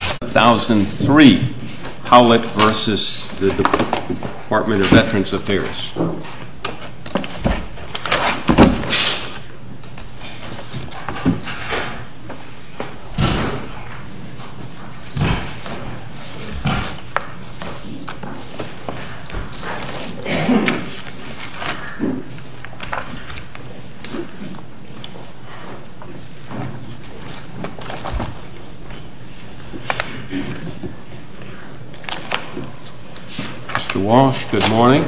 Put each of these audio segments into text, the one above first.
2003 HOWLETT v. Department of Veterans Affairs Mr. Walsh, good morning.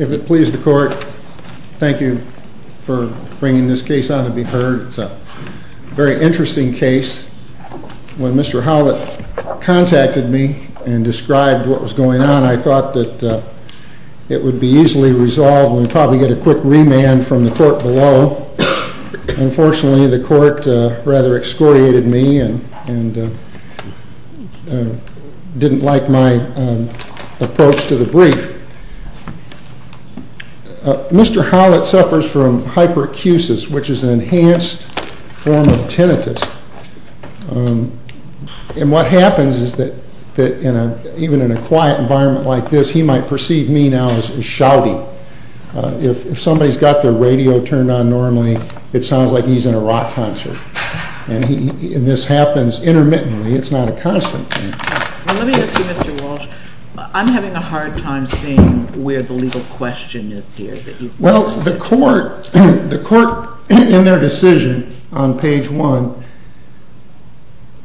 If it please the court, thank you for bringing this case on to be heard. It's a very interesting case. When Mr. Howlett contacted me and described what was going on, I thought that it would be easily resolved and we'd probably get a quick remand from the court below. Well, unfortunately, the court rather excoriated me and didn't like my approach to the brief. Mr. Howlett suffers from hyperacusis, which is an enhanced form of tinnitus. And what happens is that even in a quiet environment like this, he might perceive me now as shouting. If somebody's got their radio turned on normally, it sounds like he's in a rock concert. And this happens intermittently. It's not a constant thing. Let me ask you, Mr. Walsh, I'm having a hard time seeing where the legal question is here. Well, the court in their decision on page 1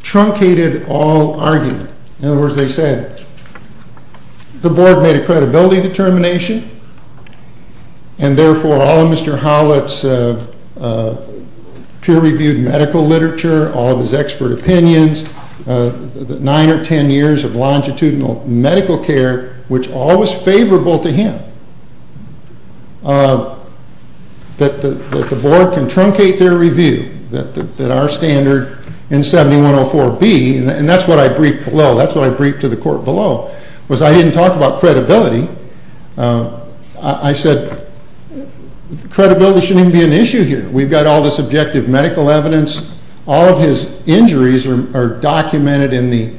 truncated all argument. In other words, they said the board made a credibility determination and therefore all of Mr. Howlett's peer-reviewed medical literature, all of his expert opinions, nine or ten years of longitudinal medical care, which all was favorable to him, that the board can truncate their review, that our standard in 7104B, and that's what I briefed below, that's what I briefed to the court below, was I didn't talk about credibility. I said credibility shouldn't even be an issue here. We've got all this objective medical evidence. All of his injuries are documented in the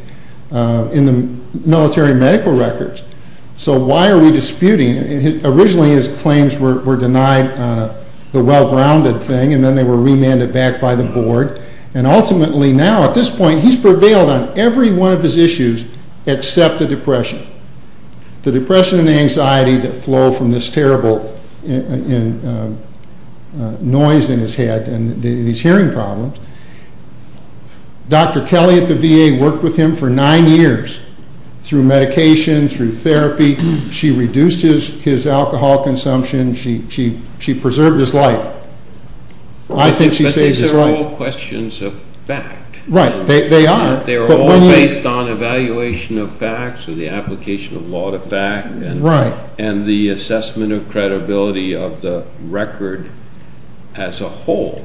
military medical records. So why are we disputing? Originally, his claims were denied the well-grounded thing, and then they were remanded back by the board. And ultimately now, at this point, he's prevailed on every one of his issues except the depression. The depression and anxiety that flow from this terrible noise in his head and these hearing problems. Dr. Kelly at the VA worked with him for nine years through medication, through therapy. She reduced his alcohol consumption. She preserved his life. But these are all questions of fact. Right, they are. They're all based on evaluation of facts or the application of law to fact and the assessment of credibility of the record as a whole.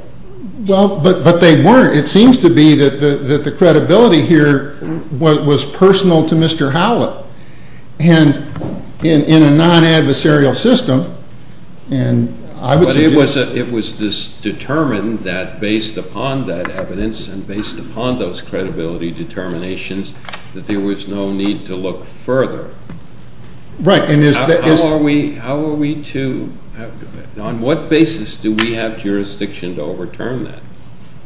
Well, but they weren't. It seems to be that the credibility here was personal to Mr. Howlett, and in a non-adversarial system. But it was determined that based upon that evidence and based upon those credibility determinations that there was no need to look further. Right. How are we to, on what basis do we have jurisdiction to overturn that?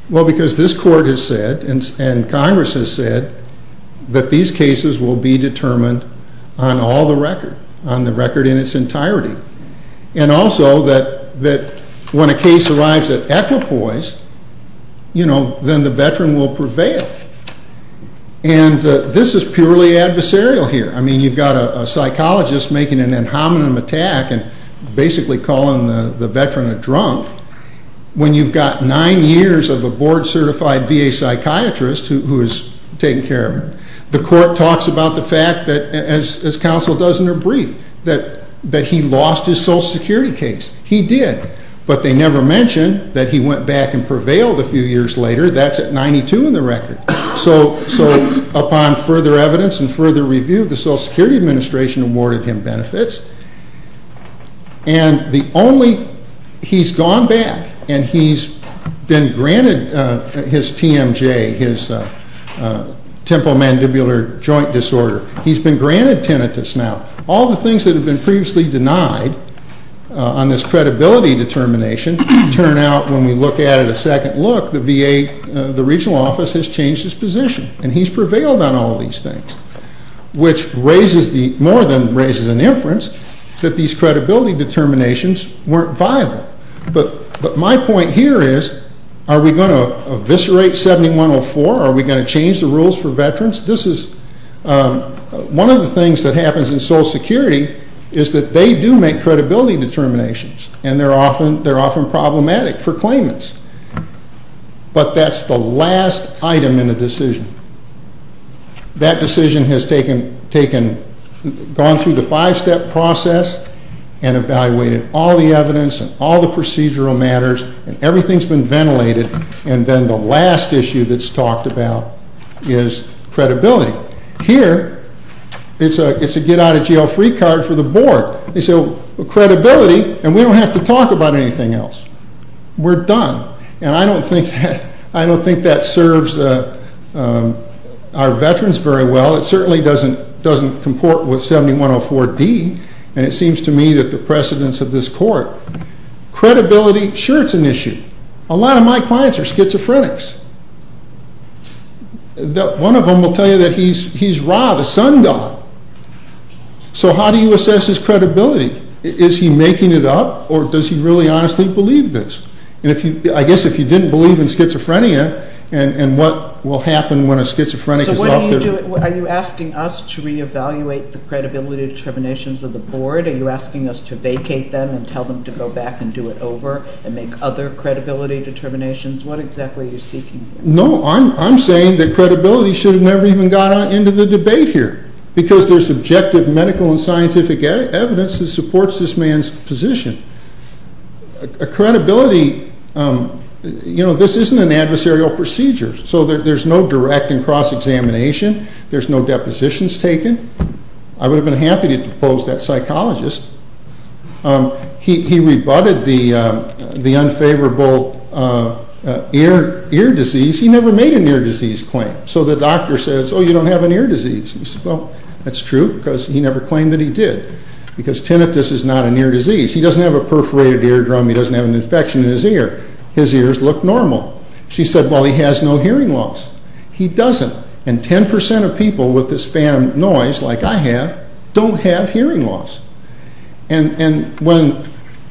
Well, because this court has said and Congress has said that these cases will be determined on all the record, on the record in its entirety. And also that when a case arrives at equipoise, you know, then the veteran will prevail. And this is purely adversarial here. I mean, you've got a psychologist making an inhominem attack and basically calling the veteran a drunk. When you've got nine years of a board-certified VA psychiatrist who is taking care of him, the court talks about the fact that, as counsel does in her brief, that he lost his Social Security case. He did. But they never mention that he went back and prevailed a few years later. That's at 92 in the record. So upon further evidence and further review, the Social Security Administration awarded him benefits. And the only – he's gone back and he's been granted his TMJ, his temporal mandibular joint disorder. He's been granted tinnitus now. All the things that have been previously denied on this credibility determination turn out when we look at it a second look, the VA, the regional office, has changed its position. And he's prevailed on all these things, which raises the – more than raises an inference that these credibility determinations weren't viable. But my point here is, are we going to eviscerate 7104? Are we going to change the rules for veterans? This is – one of the things that happens in Social Security is that they do make credibility determinations, and they're often problematic for claimants. But that's the last item in a decision. That decision has taken – gone through the five-step process and evaluated all the evidence and all the procedural matters, and everything's been ventilated. And then the last issue that's talked about is credibility. Here, it's a get-out-of-jail-free card for the board. They say, well, credibility – and we don't have to talk about anything else. We're done. And I don't think that serves our veterans very well. It certainly doesn't comport with 7104D, and it seems to me that the precedence of this court. Credibility, sure, it's an issue. A lot of my clients are schizophrenics. One of them will tell you that he's Ra, the sun god. So how do you assess his credibility? Is he making it up, or does he really honestly believe this? And if you – I guess if you didn't believe in schizophrenia and what will happen when a schizophrenic is off the – So what are you doing? Are you asking us to reevaluate the credibility determinations of the board? Are you asking us to vacate them and tell them to go back and do it over and make other credibility determinations? What exactly are you seeking? No, I'm saying that credibility should have never even got into the debate here because there's subjective medical and scientific evidence that supports this man's position. A credibility – you know, this isn't an adversarial procedure. So there's no direct and cross-examination. There's no depositions taken. I would have been happy to depose that psychologist. He rebutted the unfavorable ear disease. He never made an ear disease claim. So the doctor says, oh, you don't have an ear disease. Well, that's true because he never claimed that he did because tinnitus is not an ear disease. He doesn't have a perforated eardrum. He doesn't have an infection in his ear. His ears look normal. She said, well, he has no hearing loss. He doesn't. And 10% of people with this phantom noise, like I have, don't have hearing loss. And when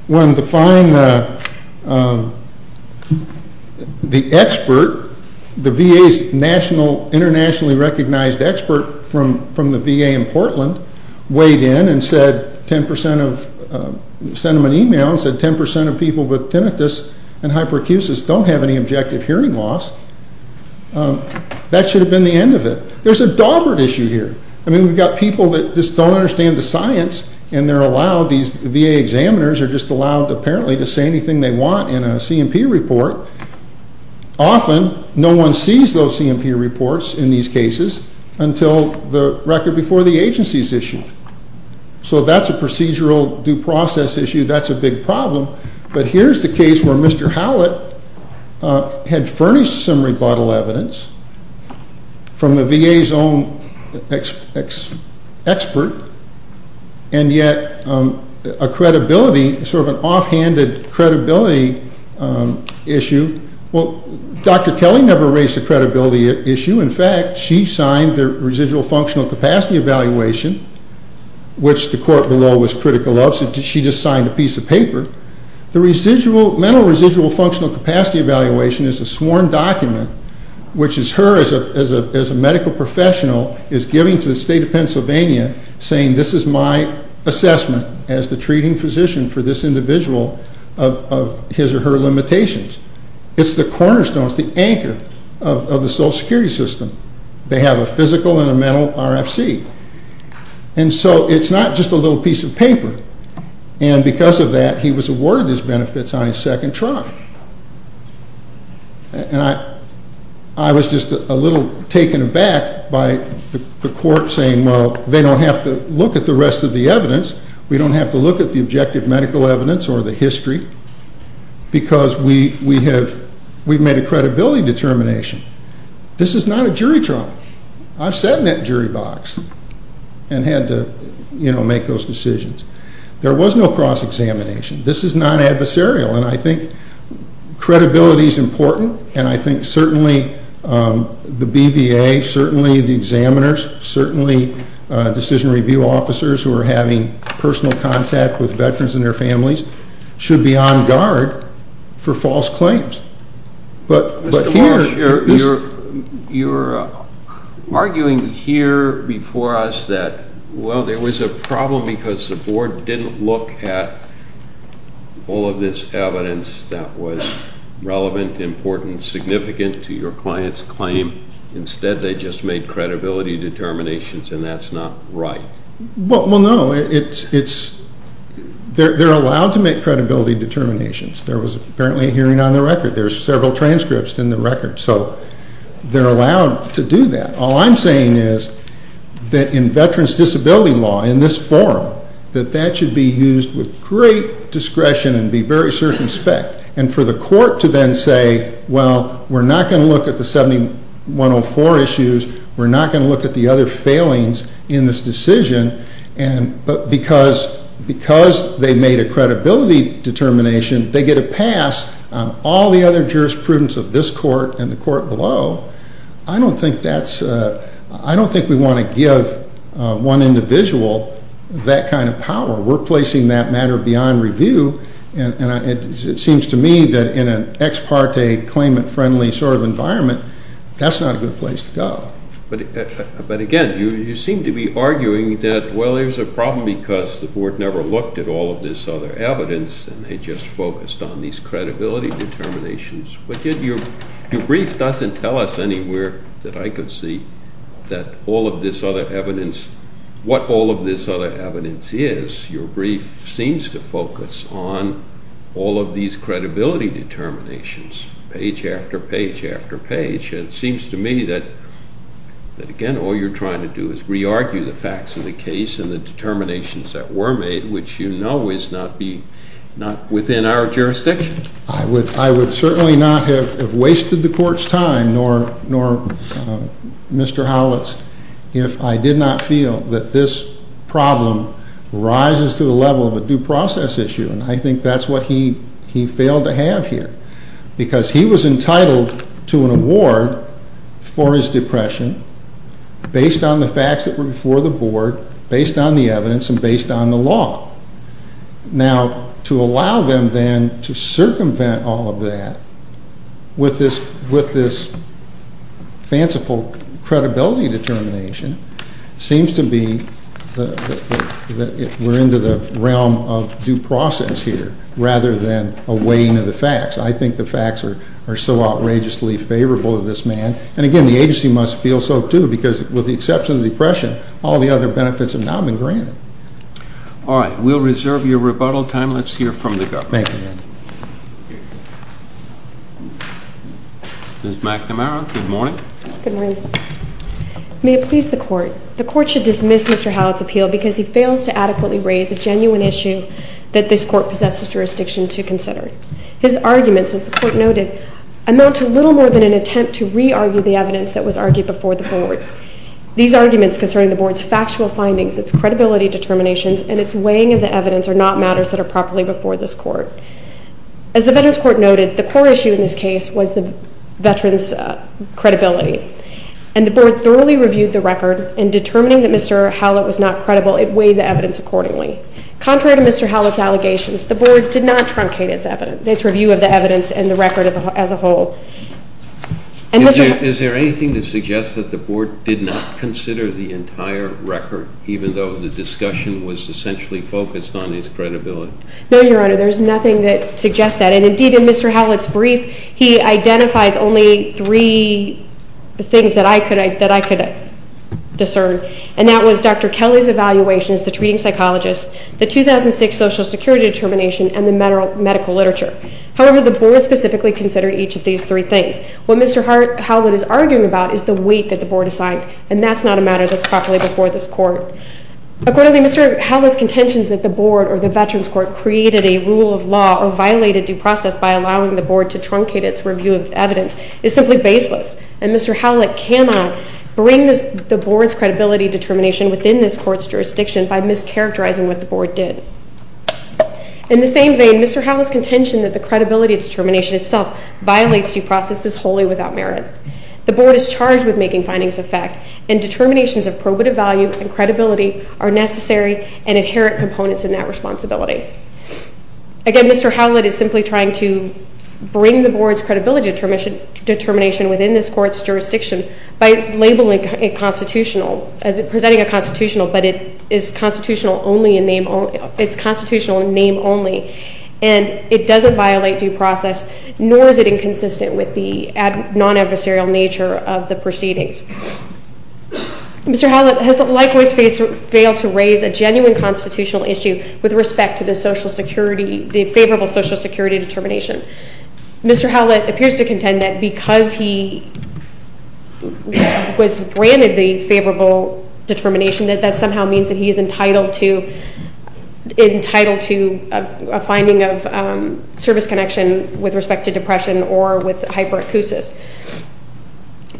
the fine – the expert, the VA's nationally – internationally recognized expert from the VA in Portland weighed in and said 10% of – sent him an email and said 10% of people with tinnitus and hyperacusis don't have any objective hearing loss. That should have been the end of it. There's a daubered issue here. I mean, we've got people that just don't understand the science and they're allowed – these VA examiners are just allowed apparently to say anything they want in a C&P report. Often no one sees those C&P reports in these cases until the record before the agency is issued. So that's a procedural due process issue. That's a big problem. But here's the case where Mr. Howlett had furnished some rebuttal evidence from the VA's own expert and yet a credibility – sort of an offhanded credibility issue. Well, Dr. Kelly never raised a credibility issue. In fact, she signed the residual functional capacity evaluation, which the court below was critical of. She just signed a piece of paper. The mental residual functional capacity evaluation is a sworn document, which is her as a medical professional is giving to the state of Pennsylvania, saying this is my assessment as the treating physician for this individual of his or her limitations. It's the cornerstone. It's the anchor of the Social Security system. They have a physical and a mental RFC. And so it's not just a little piece of paper. And because of that, he was awarded his benefits on his second trial. And I was just a little taken aback by the court saying, well, they don't have to look at the rest of the evidence. We don't have to look at the objective medical evidence or the history because we've made a credibility determination. This is not a jury trial. I've sat in that jury box and had to make those decisions. There was no cross-examination. This is non-adversarial, and I think credibility is important, and I think certainly the BVA, certainly the examiners, certainly decision review officers who are having personal contact with veterans and their families should be on guard for false claims. But here you're arguing here before us that, well, there was a problem because the board didn't look at all of this evidence that was relevant, important, significant to your client's claim. Instead, they just made credibility determinations, and that's not right. Well, no. They're allowed to make credibility determinations. There was apparently a hearing on the record. There's several transcripts in the record, so they're allowed to do that. All I'm saying is that in veterans' disability law, in this forum, that that should be used with great discretion and be very circumspect, and for the court to then say, well, we're not going to look at the 7104 issues, we're not going to look at the other failings in this decision, but because they made a credibility determination, they get a pass on all the other jurisprudence of this court and the court below, I don't think we want to give one individual that kind of power. We're placing that matter beyond review, and it seems to me that in an ex parte, claimant-friendly sort of environment, that's not a good place to go. But again, you seem to be arguing that, well, there's a problem because the board never looked at all of this other evidence, and they just focused on these credibility determinations. But your brief doesn't tell us anywhere that I could see that all of this other evidence, what all of this other evidence is. Your brief seems to focus on all of these credibility determinations, page after page after page. It seems to me that, again, all you're trying to do is re-argue the facts of the case and the determinations that were made, which you know is not within our jurisdiction. I would certainly not have wasted the court's time, nor Mr. Howlett's, if I did not feel that this problem rises to the level of a due process issue, and I think that's what he failed to have here, because he was entitled to an award for his depression based on the facts that were before the board, based on the evidence, and based on the law. Now, to allow them then to circumvent all of that with this fanciful credibility determination seems to be that we're into the realm of due process here, rather than a weighing of the facts. I think the facts are so outrageously favorable to this man, and again, the agency must feel so too, because with the exception of depression, all the other benefits have now been granted. All right. We'll reserve your rebuttal time. Let's hear from the government. Thank you. Ms. McNamara, good morning. Good morning. May it please the Court, the Court should dismiss Mr. Howlett's appeal because he fails to adequately raise a genuine issue that this Court possesses jurisdiction to consider. His arguments, as the Court noted, amount to little more than an attempt to re-argue the evidence that was argued before the board. These arguments concerning the board's factual findings, its credibility determinations, and its weighing of the evidence are not matters that are properly before this Court. As the Veterans Court noted, the core issue in this case was the veterans' credibility, and the board thoroughly reviewed the record, and determining that Mr. Howlett was not credible, it weighed the evidence accordingly. Contrary to Mr. Howlett's allegations, the board did not truncate its review of the evidence and the record as a whole. Is there anything to suggest that the board did not consider the entire record, even though the discussion was essentially focused on its credibility? No, Your Honor, there's nothing that suggests that, and indeed in Mr. Howlett's brief he identifies only three things that I could discern, and that was Dr. Kelly's evaluations, the treating psychologist, the 2006 Social Security determination, and the medical literature. However, the board specifically considered each of these three things. What Mr. Howlett is arguing about is the weight that the board assigned, and that's not a matter that's properly before this Court. Accordingly, Mr. Howlett's contentions that the board or the Veterans Court created a rule of law or violated due process by allowing the board to truncate its review of evidence is simply baseless, and Mr. Howlett cannot bring the board's credibility determination within this Court's jurisdiction by mischaracterizing what the board did. In the same vein, Mr. Howlett's contention that the credibility determination itself violates due process is wholly without merit. The board is charged with making findings of fact, and determinations of probative value and credibility are necessary and inherit components in that responsibility. Again, Mr. Howlett is simply trying to bring the board's credibility determination within this Court's jurisdiction by labeling it constitutional, presenting it constitutional, but it is constitutional in name only, and it doesn't violate due process, nor is it inconsistent with the non-adversarial nature of the proceedings. Mr. Howlett has likewise failed to raise a genuine constitutional issue with respect to the favorable Social Security determination. Mr. Howlett appears to contend that because he was granted the favorable determination, that that somehow means that he is entitled to a finding of service connection with respect to depression or with hyperacusis.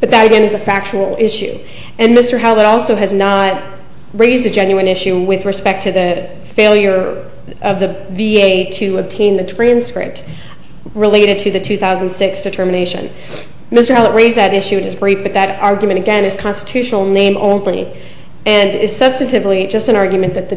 But that, again, is a factual issue. And Mr. Howlett also has not raised a genuine issue with respect to the failure of the VA to obtain the transcript related to the 2006 determination. Mr. Howlett raised that issue in his brief, but that argument, again, is constitutional in name only and is substantively just an argument that the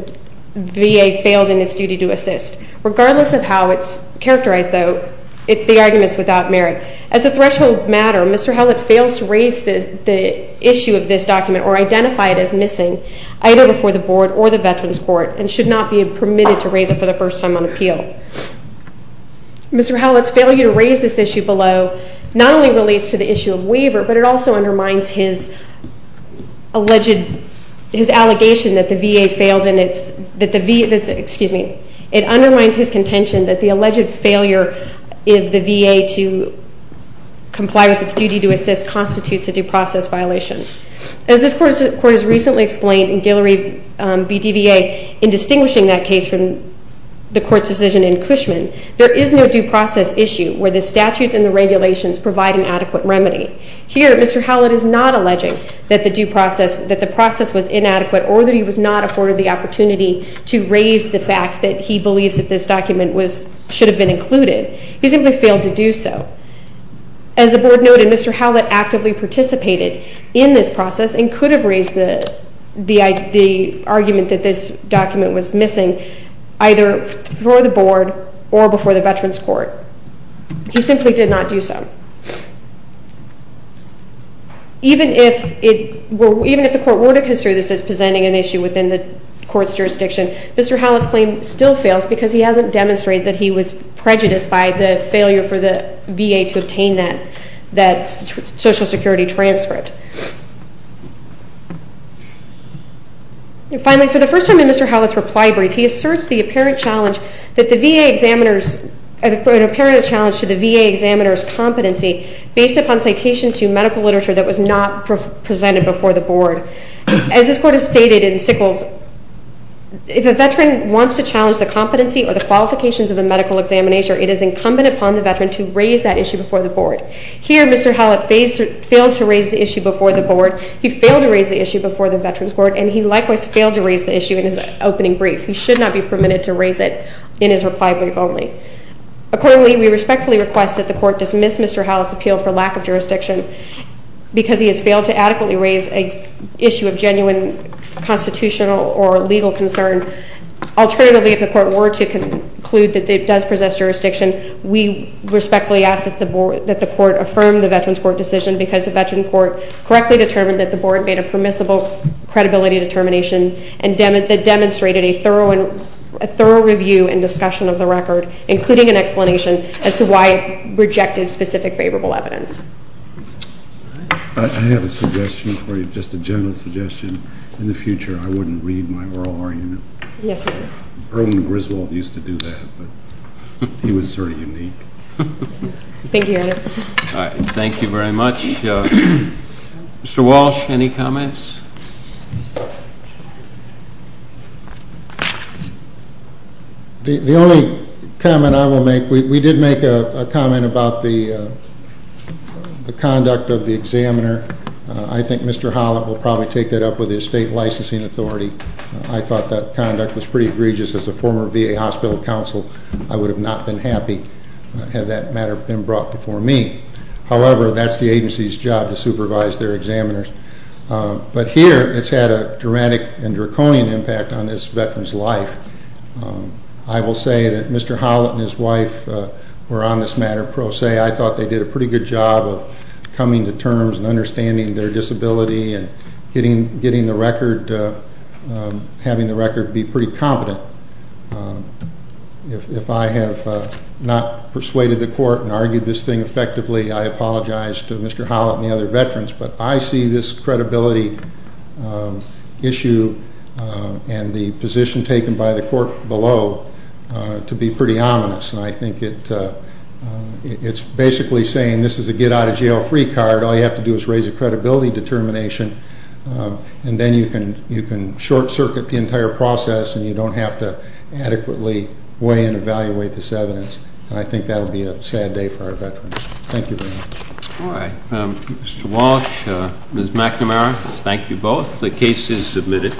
VA failed in its duty to assist. Regardless of how it's characterized, though, the argument is without merit. As a threshold matter, Mr. Howlett fails to raise the issue of this document or identify it as missing either before the Board or the Veterans Court and should not be permitted to raise it for the first time on appeal. Mr. Howlett's failure to raise this issue below not only relates to the issue of waiver, but it also undermines his alleged allegation that the VA failed in its – comply with its duty to assist constitutes a due process violation. As this Court has recently explained in Guillory v. DVA, in distinguishing that case from the Court's decision in Cushman, there is no due process issue where the statutes and the regulations provide an adequate remedy. Here, Mr. Howlett is not alleging that the due process – that the process was inadequate or that he was not afforded the opportunity to raise the fact that he believes that this document was – should have been included. He simply failed to do so. As the Board noted, Mr. Howlett actively participated in this process and could have raised the argument that this document was missing either before the Board or before the Veterans Court. He simply did not do so. Even if it were – even if the Court were to consider this as presenting an issue within the Court's jurisdiction, Mr. Howlett's claim still fails because he hasn't demonstrated that he was prejudiced by the failure for the VA to obtain that Social Security transcript. Finally, for the first time in Mr. Howlett's reply brief, he asserts the apparent challenge that the VA examiners – an apparent challenge to the VA examiners' competency based upon citation to medical literature that was not presented before the Board. As this Court has stated in Sickles, if a veteran wants to challenge the competency or the qualifications of a medical examination, it is incumbent upon the veteran to raise that issue before the Board. Here, Mr. Howlett failed to raise the issue before the Board. He failed to raise the issue before the Veterans Court, and he likewise failed to raise the issue in his opening brief. He should not be permitted to raise it in his reply brief only. Accordingly, we respectfully request that the Court dismiss Mr. Howlett's appeal for lack of jurisdiction because he has failed to adequately raise an issue of genuine constitutional or legal concern. Alternatively, if the Court were to conclude that it does possess jurisdiction, we respectfully ask that the Court affirm the Veterans Court decision because the Veterans Court correctly determined that the Board made a permissible credibility determination that demonstrated a thorough review and discussion of the record, including an explanation as to why it rejected specific favorable evidence. I have a suggestion for you, just a general suggestion. In the future, I wouldn't read my oral argument. Yes, Your Honor. Erwin Griswold used to do that, but he was sort of unique. Thank you, Your Honor. Thank you very much. Mr. Walsh, any comments? The only comment I will make, we did make a comment about the conduct of the examiner. I think Mr. Howlett will probably take that up with the estate licensing authority. I thought that conduct was pretty egregious as a former VA hospital counsel. I would have not been happy had that matter been brought before me. However, that's the agency's job to supervise their examiners. But here it's had a dramatic and draconian impact on this Veteran's life. I will say that Mr. Howlett and his wife were on this matter pro se. I thought they did a pretty good job of coming to terms and understanding their disability and having the record be pretty competent. If I have not persuaded the court and argued this thing effectively, I apologize to Mr. Howlett and the other Veterans. But I see this credibility issue and the position taken by the court below to be pretty ominous. I think it's basically saying this is a get-out-of-jail-free card. All you have to do is raise a credibility determination, and then you can short-circuit the entire process and you don't have to adequately weigh and evaluate this evidence. I think that will be a sad day for our Veterans. Thank you very much. All right. Mr. Walsh, Ms. McNamara, thank you both. The case is submitted.